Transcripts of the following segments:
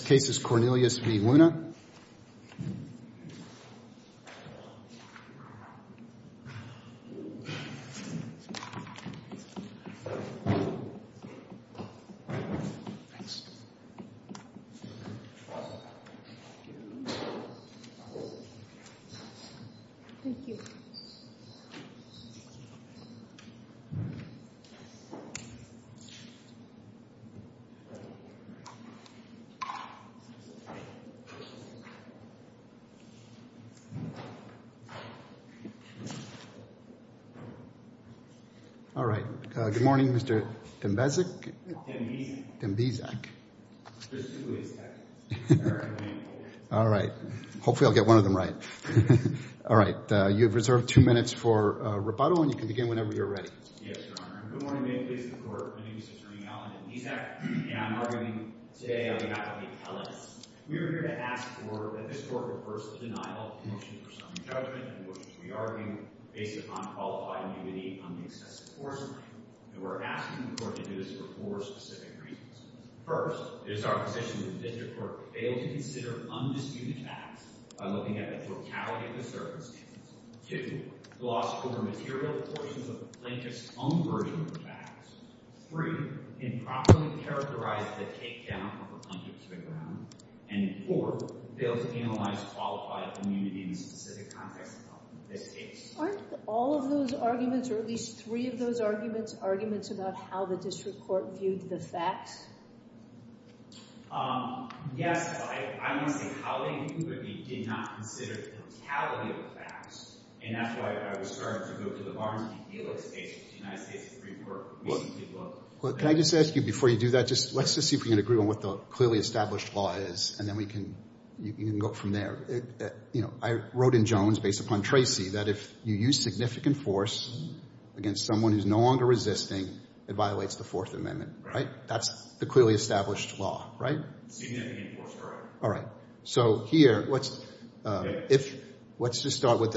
The first case is Cornelius v. Luna All right. Good morning, Mr. Dembezik. Dembezik. Dembezik. There's two ways to say it. All right. Hopefully I'll get one of them right. All right. You have reserved two minutes for rebuttal, and you can begin whenever you're ready. Yes, Your Honor. Good morning. May it please the Court. My name is Mr. E. Allen Dembezik, and I'm arguing today on behalf of the appellants. We are here to ask for that this Court reverse the denial of the motion for some judgment, which we are arguing based upon qualified immunity on the excessive force claim. And we're asking the Court to do this for four specific reasons. First, it is our position that the District Court fail to consider undisputed facts by looking at the totality of the circumstances. Two, gloss over material portions of the plaintiff's own version of the facts. Three, improperly characterize the takedown of the plaintiff's reground. And four, fail to analyze qualified immunity in the specific context of this case. Aren't all of those arguments, or at least three of those arguments, arguments about how the District Court viewed the facts? Yes. I'm going to say how they viewed, but we did not consider the totality of the facts. And that's why I was starting to go to the Barnes v. Felix case, which the United States Supreme Court recently looked at. Can I just ask you, before you do that, let's just see if we can agree on what the clearly established law is, and then we can go from there. I wrote in Jones, based upon Tracy, that if you use significant force against someone who's no longer resisting, it violates the Fourth Amendment, right? That's the clearly established law, right? Significant force, correct. All right. So here, let's just start with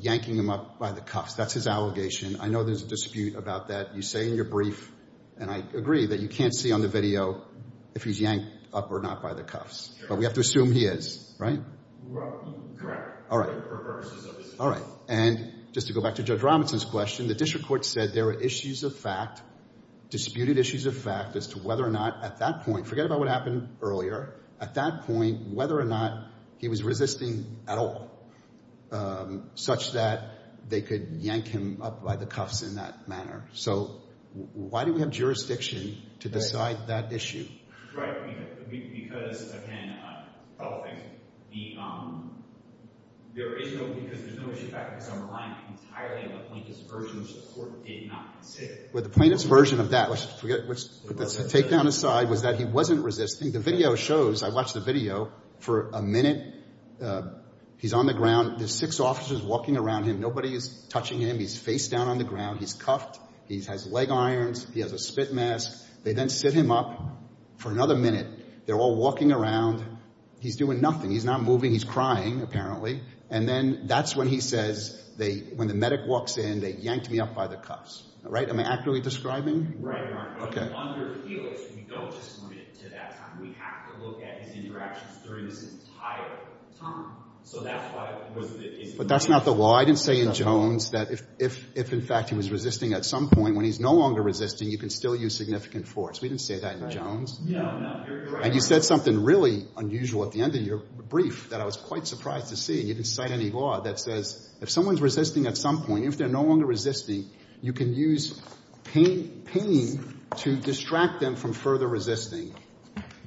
yanking him up by the cuffs. That's his allegation. I know there's a dispute about that. You say in your brief, and I agree, that you can't see on the video if he's yanked up or not by the cuffs. But we have to assume he is, right? Correct. All right. All right. And just to go back to Judge Robinson's question, the District Court said there were issues of fact, disputed issues of fact as to whether or not at that point, forget about what happened earlier, at that point, whether or not he was resisting at all, such that they could yank him up by the cuffs in that manner. So why do we have jurisdiction to decide that issue? Right. Because, again, there is no issue of fact, because I'm relying entirely on the plaintiff's version, which the Court did not consider. Well, the plaintiff's version of that, which to take down aside, was that he wasn't resisting. The video shows, I watched the video, for a minute, he's on the ground. There's six officers walking around him. Nobody is touching him. He's face down on the ground. He's cuffed. He has leg irons. He has a spit mask. They then sit him up for another minute. They're all walking around. He's doing nothing. He's not moving. He's crying, apparently. And then that's when he says, when the medic walks in, they yanked me up by the cuffs. Am I accurately describing? Right, Your Honor. Okay. But that's not the law. I didn't say in Jones that if, in fact, he was resisting at some point, when he's no longer resisting, you can still use significant force. We didn't say that in Jones. And you said something really unusual at the end of your brief that I was quite surprised to see. You didn't cite any law that says if someone's resisting at some point, if they're no longer resisting, you can use pain to distract them from further resisting.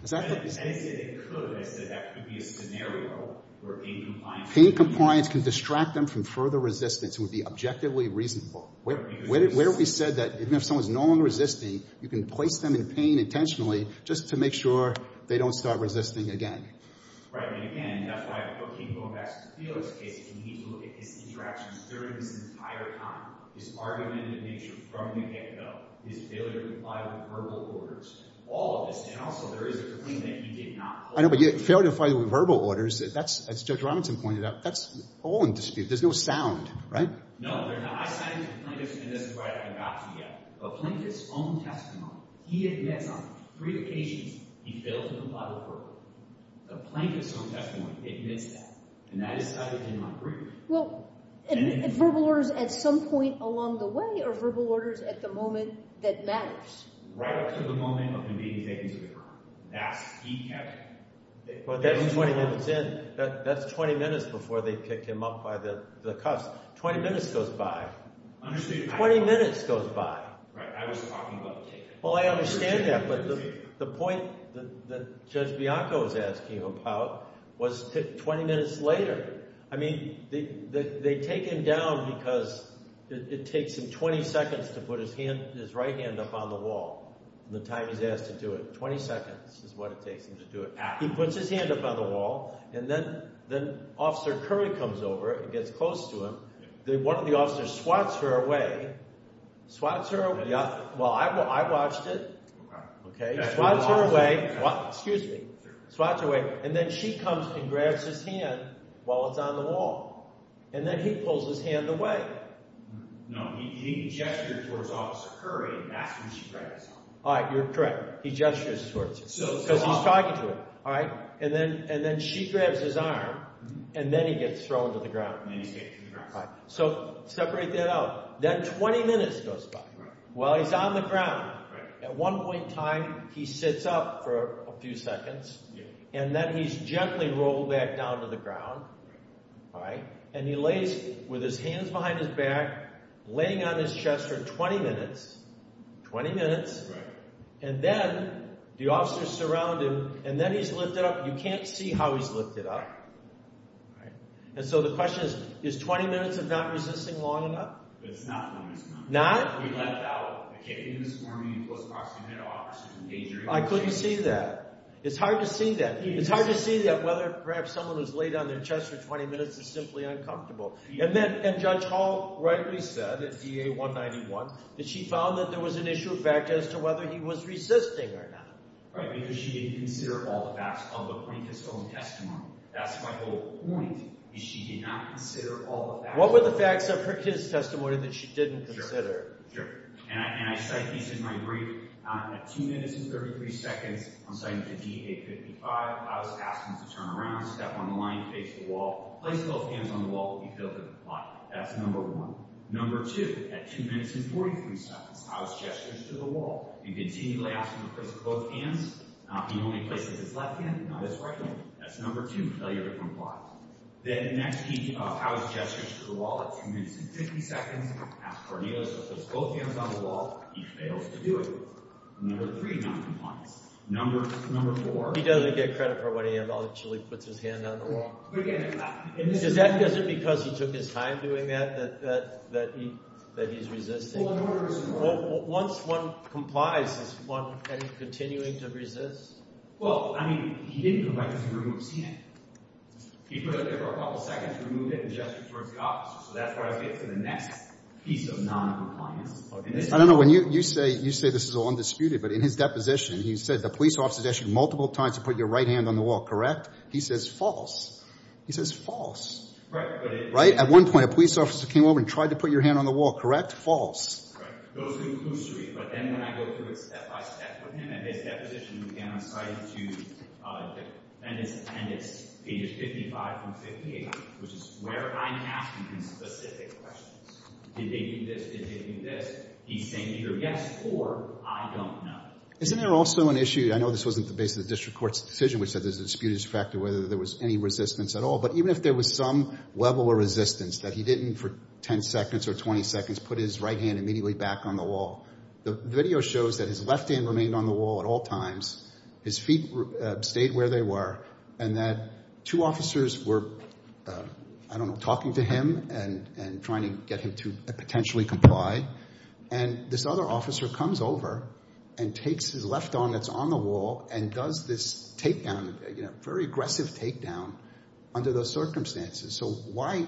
Is that what you're saying? I didn't say they could. I said that could be a scenario where pain compliance. Pain compliance can distract them from further resistance. It would be objectively reasonable. Where have we said that even if someone's no longer resisting, you can place them in pain intentionally just to make sure they don't start resisting again? Right. And, again, that's why I keep going back to Theodore's case. You need to look at his interactions during this entire time, his argumentative nature from the get-go, his failure to comply with verbal orders, all of this. And, also, there is a complaint that he did not hold. I know, but failure to comply with verbal orders, as Judge Robinson pointed out, that's all in dispute. There's no sound, right? No, there's not. I cited a plaintiff's own testimony. He admits on three occasions he failed to comply with verbal orders. A plaintiff's own testimony admits that. And that is cited in my brief. Well, verbal orders at some point along the way are verbal orders at the moment that matters. Right up to the moment of him being taken to the firm. That's he kept. That's 20 minutes in. That's 20 minutes before they pick him up by the cuffs. 20 minutes goes by. Understood. 20 minutes goes by. Right. I was talking about the ticket. Well, I understand that. But the point that Judge Bianco was asking about was 20 minutes later. I mean, they take him down because it takes him 20 seconds to put his right hand up on the wall. The time he's asked to do it. 20 seconds is what it takes him to do it. He puts his hand up on the wall. And then Officer Curry comes over and gets close to him. One of the officers swats her away. Swats her away. Well, I watched it. Okay. Swats her away. Excuse me. Swats her away. And then she comes and grabs his hand while it's on the wall. And then he pulls his hand away. No. He gestured towards Officer Curry and that's when she grabs him. All right. You're correct. He gestures towards you. Because he's talking to her. All right. And then she grabs his arm. And then he gets thrown to the ground. And then he's taken to the ground. So separate that out. Then 20 minutes goes by. Right. While he's on the ground. Right. At one point in time, he sits up for a few seconds. Yeah. And then he's gently rolled back down to the ground. Right. All right. And he lays with his hands behind his back, laying on his chest for 20 minutes. 20 minutes. Right. And then the officers surround him. And then he's lifted up. You can't see how he's lifted up. Right. And so the question is, is 20 minutes of not resisting long enough? It's not long enough. Not? Not long enough. And then he lets out a kick in his forearm. He goes across. He met officers and engaged them. I couldn't see that. It's hard to see that. It's hard to see that whether perhaps someone was laid on their chest for 20 minutes is simply uncomfortable. And then Judge Hall rightly said at DA 191 that she found that there was an issue of fact as to whether he was resisting or not. Right. Because she did consider all the facts of the plaintiff's own testimony. That's my whole point is she did not consider all the facts of her own testimony. What were the facts of his testimony that she didn't consider? Sure. And I cite these in my brief. At 2 minutes and 33 seconds, I'm citing to DA 55, I was asking him to turn around, step on the line, face the wall, place both hands on the wall if he failed to comply. That's number one. Number two, at 2 minutes and 43 seconds, I was gesturing to the wall and continually asking him to place both hands. He normally places his left hand, not his right hand. That's number two, failure to comply. Then next he, I was gesturing to the wall at 2 minutes and 50 seconds, asked Cornelius to put both hands on the wall. He fails to do it. Number three, noncompliance. Number four. He doesn't get credit for what he had done until he puts his hand on the wall. But again. Is that because he took his time doing that, that he's resisting? Once one complies, is one continuing to resist? Well, I mean, he didn't comply because he didn't want to see it. He put up there for a couple seconds, removed it, and gestured towards the officer. So that's where I get to the next piece of noncompliance. I don't know. When you say this is all undisputed, but in his deposition, he said the police officer has asked you multiple times to put your right hand on the wall. Correct? He says false. He says false. Right? At one point, a police officer came over and tried to put your hand on the wall. Correct? False. Right. But then when I go through it step-by-step with him, in his deposition, again, I'm citing to defendants' pages 55 through 58, which is where I'm asking him specific questions. Did they do this? Did they do this? He's saying either yes or I don't know. Isn't there also an issue? I know this wasn't the basis of the district court's decision, which said there's a disputed factor whether there was any resistance at all. But even if there was some level of resistance that he didn't, for 10 seconds or 20 seconds, put his right hand immediately back on the wall, the video shows that his left hand remained on the wall at all times, his feet stayed where they were, and that two officers were, I don't know, talking to him and trying to get him to potentially comply. And this other officer comes over and takes his left arm that's on the wall and does this takedown, very aggressive takedown under those circumstances. So why,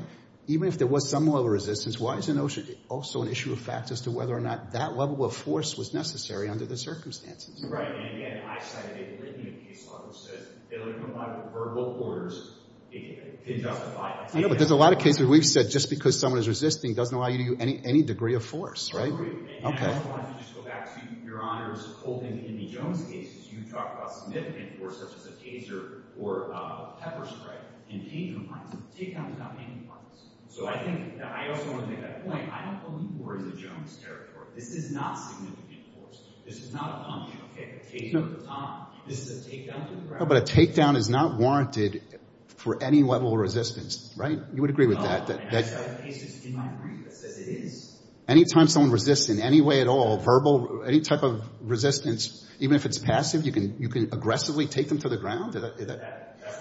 even if there was some level of resistance, why is the notion also an issue of fact as to whether or not that level of force was necessary under the circumstances? And again, I cited it in the case law, which says they don't comply with verbal orders to justify a takedown. I know, but there's a lot of cases where we've said just because someone is resisting doesn't allow you to do any degree of force, right? Right. Okay. And I also wanted to just go back to Your Honor's holding in the Jones case. You talked about significant force, such as a taser or a pepper spray. And pain compliance. A takedown is not pain compliance. So I think that I also want to make that point. I don't believe war is a Jones territory. This is not significant force. This is not a punch. Okay. A takedown is not. This is a takedown to the ground. But a takedown is not warranted for any level of resistance, right? You would agree with that? And I cited cases in my brief that says it is. Any time someone resists in any way at all, verbal, any type of resistance, even if it's passive, you can aggressively take them to the ground? That's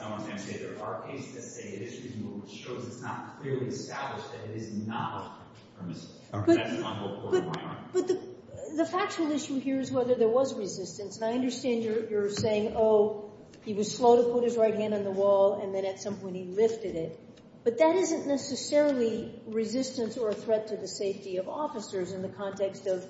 not what I'm trying to say. There are cases that say it is. It shows it's not clearly established that it is not. That's my whole point, Your Honor. But the factual issue here is whether there was resistance. And I understand you're saying, oh, he was slow to put his right hand on the wall and then at some point he lifted it. But that isn't necessarily resistance or a threat to the safety of officers in the context of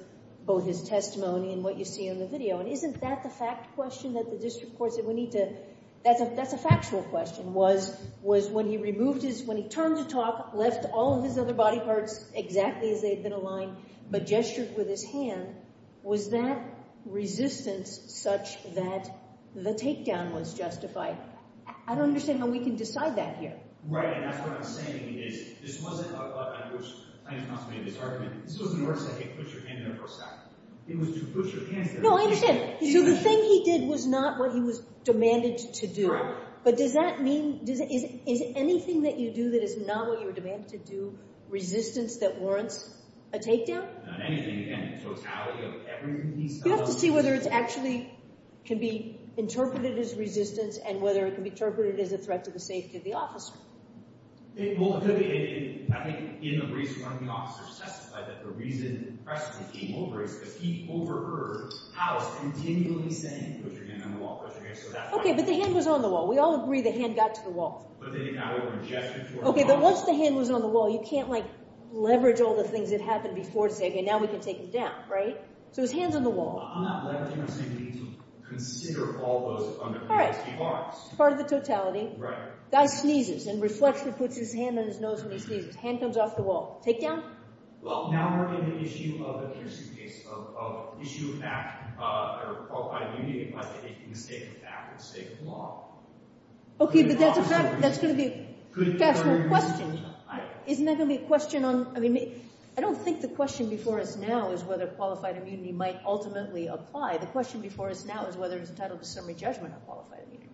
both his testimony and what you see in the video. And isn't that the fact question that the district courts that we need to – that's a factual question. Was when he removed his – when he turned to talk, left all of his other body parts exactly as they had been aligned, but gestured with his hand, was that resistance such that the takedown was justified? I don't understand how we can decide that here. Right. And that's what I'm saying is this wasn't a – I know you're trying to consolidate this argument. This wasn't an order to say, hey, put your hand in a post-op. It was to put your hand – No, I understand. So the thing he did was not what he was demanded to do. But does that mean – is anything that you do that is not what you were demanded to do resistance that warrants a takedown? Not anything. Again, the totality of everything he said – We have to see whether it actually can be interpreted as resistance and whether it can be interpreted as a threat to the safety of the officer. Well, I think in the briefs, one of the officers testified that the reason he overheard Howe continually saying, put your hand on the wall, put your hand – Okay, but the hand was on the wall. We all agree the hand got to the wall. But they did not over-gesture toward the wall. Okay, but once the hand was on the wall, you can't, like, leverage all the things that happened before to say, okay, now we can take him down, right? So his hand's on the wall. I'm not leveraging or saying we need to consider all those underpinnings. Part of the totality. Right. Guy sneezes and reflexively puts his hand on his nose when he sneezes. Hand comes off the wall. Takedown? Well, now we're in an issue of the Pearson case of issue of fact or qualified immunity by the mistake of fact or the mistake of law. Okay, but that's going to be a factual question. Isn't that going to be a question on – I mean, I don't think the question before us now is whether qualified immunity might ultimately apply. The question before us now is whether he's entitled to summary judgment on qualified immunity.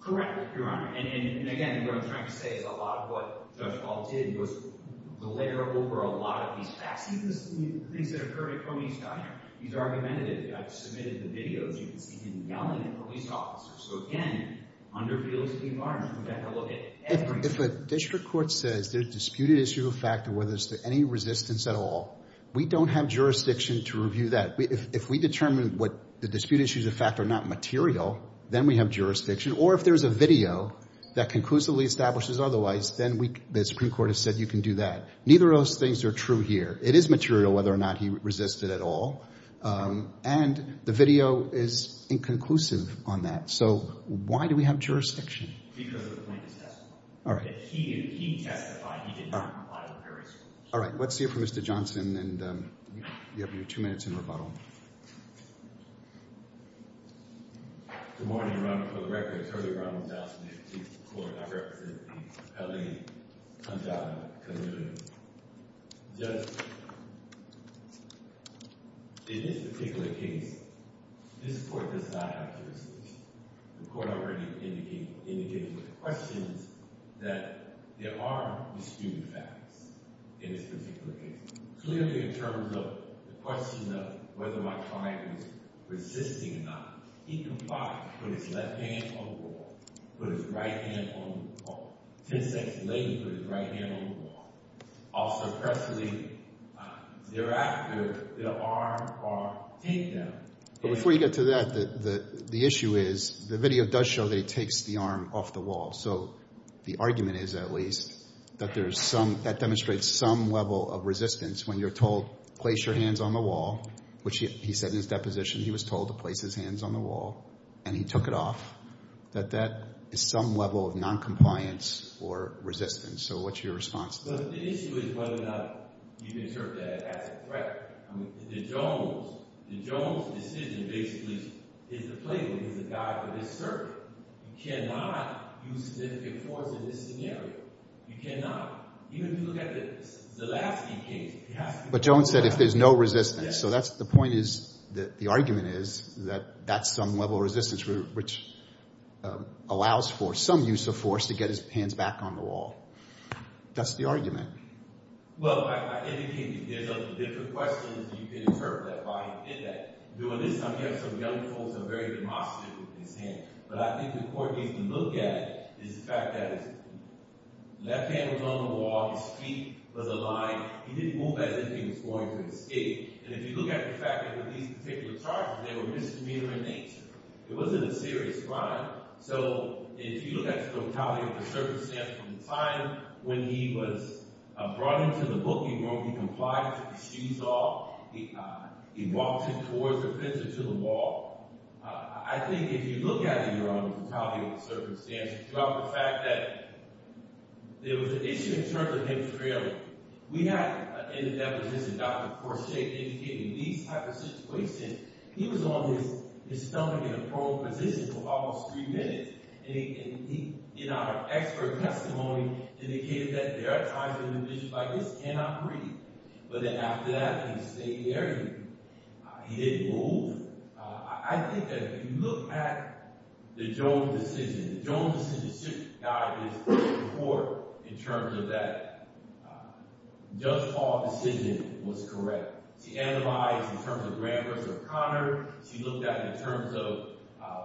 Correct, Your Honor. And again, what I'm trying to say is a lot of what Judge Ball did was the layer over a lot of these facts, even the things that occurred at Coney's Diner. He's argumented it. I've submitted the videos. You can see him yelling at police officers. So again, under feelings of the environment, we've got to look at everything. If a district court says there's disputed issue of fact or whether there's any resistance at all, we don't have jurisdiction to review that. If we determine what the disputed issues of fact are not material, then we have jurisdiction. Or if there's a video that conclusively establishes otherwise, then the Supreme Court has said you can do that. Neither of those things are true here. It is material whether or not he resisted at all. And the video is inconclusive on that. So why do we have jurisdiction? Because of the plaintiff's testimony. All right. If he testified, he did not comply with various rules. All right. Let's hear from Mr. Johnson, and you have your two minutes in rebuttal. Good morning, Your Honor. For the record, I'm Terry Brown. I'm the Justice of the District Court. I represent the Pelley-Hundada community. Judge, in this particular case, this court does not have jurisdiction. The court already indicated with questions that there are disputed facts in this particular case. Clearly, in terms of the question of whether my client was resisting or not, he complied, put his left hand on the wall, put his right hand on the wall. Ten seconds later, he put his right hand on the wall. Also, presently thereafter, they'll arm or take them. But before you get to that, the issue is the video does show that he takes the arm off the wall. So the argument is, at least, that there is some – that demonstrates some level of resistance when you're told, place your hands on the wall, which he said in his deposition he was told to place his hands on the wall, and he took it off, that that is some level of noncompliance or resistance. So what's your response to that? The issue is whether or not you can assert that as a threat. The Jones decision basically is the playbook, is the guide, but it's certain. You cannot use significant force in this scenario. You cannot. But Jones said if there's no resistance. So that's – the point is – the argument is that that's some level of resistance, which allows for some use of force to get his hands back on the wall. That's the argument. Well, I indicated there's a lot of different questions that you can interpret about why he did that. During this time, we have some young folks that are very demonstrative of his hand. But I think the court needs to look at is the fact that his left hand was on the wall, his feet was aligned. He didn't move as if he was going to escape. And if you look at the fact that with these particular charges, they were misdemeanor in nature. It wasn't a serious crime. So if you look at the totality of the circumstances from the time when he was brought into the booking room, he complied, took his shoes off, he walked in towards the fence and to the wall. I think if you look at it in your own totality of the circumstances, you have the fact that there was an issue in terms of him trailing. We had in that position Dr. Courchet indicating these type of situations. He was on his stomach in a prone position for almost three minutes. And he, in our expert testimony, indicated that there are times when an individual like this cannot breathe. But then after that, he stayed there. He didn't move. I think that if you look at the Jones decision, the Jones decision should guide this report in terms of that Judge Paul decision was correct. She analyzed in terms of Grand Court of Connors. She looked at it in terms of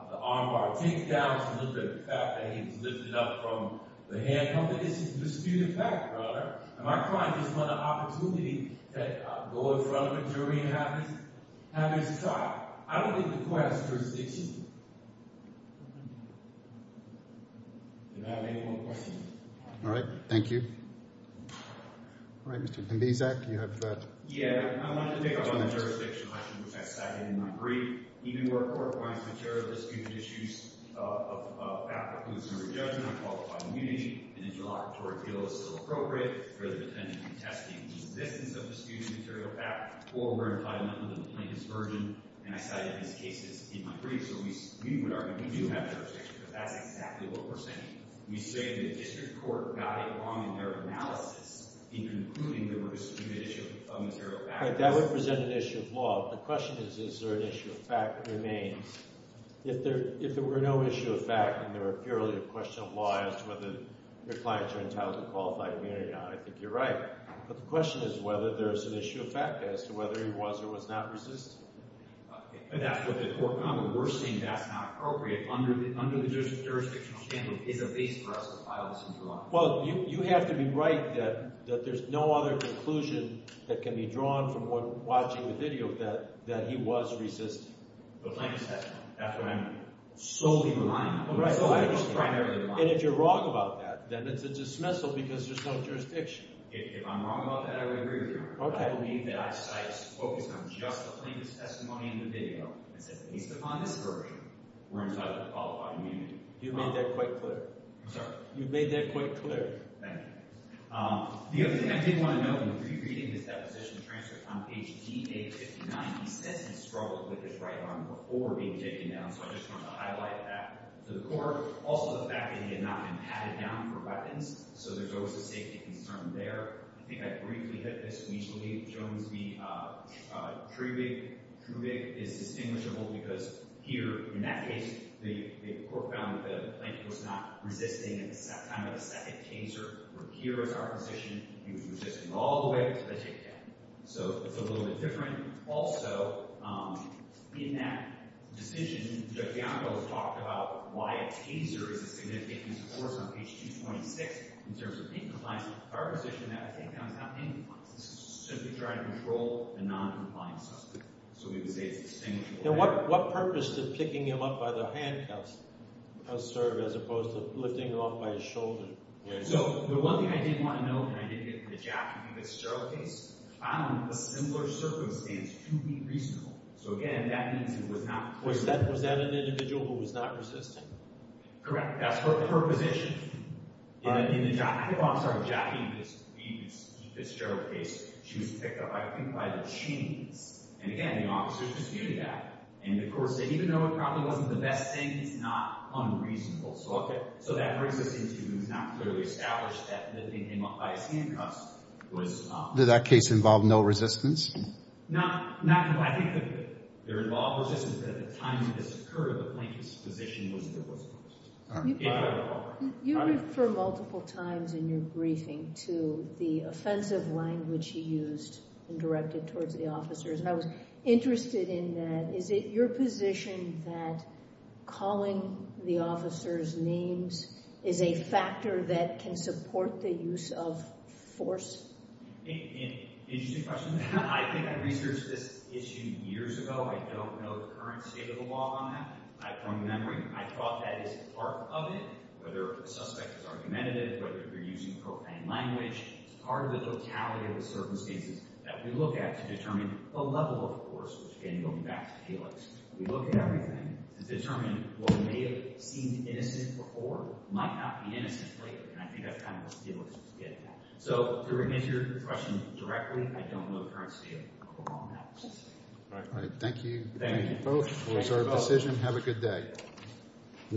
the armbar takedown. She looked at the fact that he was lifted up from the handcuffs. It's a disputed fact, brother. Am I trying to just run an opportunity to go in front of a jury and have this trial? I don't think the court has jurisdiction. Do I have any more questions? All right. Thank you. All right, Mr. Kambizak, you have that. Yeah, I wanted to pick up on the jurisdiction question, which I cited in my brief. Even where a court finds material disputed issues of fact includes jury judgment on qualified immunity, an interlocutory deal is still appropriate for the pretension to be testing the existence of a disputed material fact. Or we're implied enough of a plaintiff's version, and I cited these cases in my brief. So we would argue we do have jurisdiction, because that's exactly what we're saying. We say the district court got it wrong in their analysis in concluding there was a disputed issue of material fact. All right, that would present an issue of law. The question is, is there an issue of fact that remains? If there were no issue of fact and there were purely a question of law as to whether the client's are entitled to qualified immunity, I think you're right. But the question is whether there's an issue of fact as to whether he was or was not resistant. That's what the court found. We're saying that's not appropriate under the jurisdiction standard. It's a base for us to file this into law. Well, you have to be right that there's no other conclusion that can be drawn from watching the video that he was resistant. The plaintiff said that's what I'm solely relying on. And if you're wrong about that, then it's a dismissal because there's no jurisdiction. If I'm wrong about that, I would agree with you. But I believe that I cite focused on just the plaintiff's testimony in the video and said, based upon this version, we're entitled to qualified immunity. You've made that quite clear. I'm sorry? You've made that quite clear. Thank you. The other thing I did want to note in rereading this deposition transcript on page DA59, he says he struggled with his right arm before being taken down. So I just wanted to highlight that to the court. Also, the fact that he had not been patted down for weapons. So there's always a safety concern there. I think I briefly hit this. We usually, Jones v. Trubig, Trubig is distinguishable because here, in that case, the court found that the plaintiff was not resisting at the time of the second taser. Here is our position. He was resisting all the way until they took him down. So it's a little bit different. Also, in that decision, Judge Bianco has talked about why a taser is a significant use of force on page 226 in terms of being compliant. In our position, that, I think, counts as not being compliant. This is simply trying to control a noncompliant suspect. So we would say it's distinguishable. Now, what purpose did picking him up by the handcuffs serve as opposed to lifting him up by his shoulder? So the one thing I did want to note, and I did get in the Jaffee v. Sterl case, found a similar circumstance to be reasonable. So, again, that means he was not clearly resisting. Was that an individual who was not resisting? Correct. That's her position. In the Jaffee v. Sterl case, she was picked up, I think, by the chains. And, again, the officers disputed that. And, of course, even though it probably wasn't the best thing, it's not unreasonable. So that brings us into he was not clearly established that lifting him up by his handcuffs was— Did that case involve no resistance? Not completely. I think there involved resistance, but at the time that this occurred, the plaintiff's position was that it wasn't. You referred multiple times in your briefing to the offensive language he used and directed towards the officers. And I was interested in that. Is it your position that calling the officers' names is a factor that can support the use of force? Interesting question. I think I researched this issue years ago. I don't know the current state of the law on that. From memory, I thought that is part of it, whether the suspect is argumentative, whether you're using propane language. It's part of the totality of the circumstances that we look at to determine the level of force, which, again, goes back to Felix. We look at everything to determine what may have seemed innocent before might not be innocent later. And I think that's kind of what Felix was getting at. So to repeat your question directly, I don't know the current state of the law on that. All right. All right. Thank you. Thank you, both, for your sort of decision. Have a good day.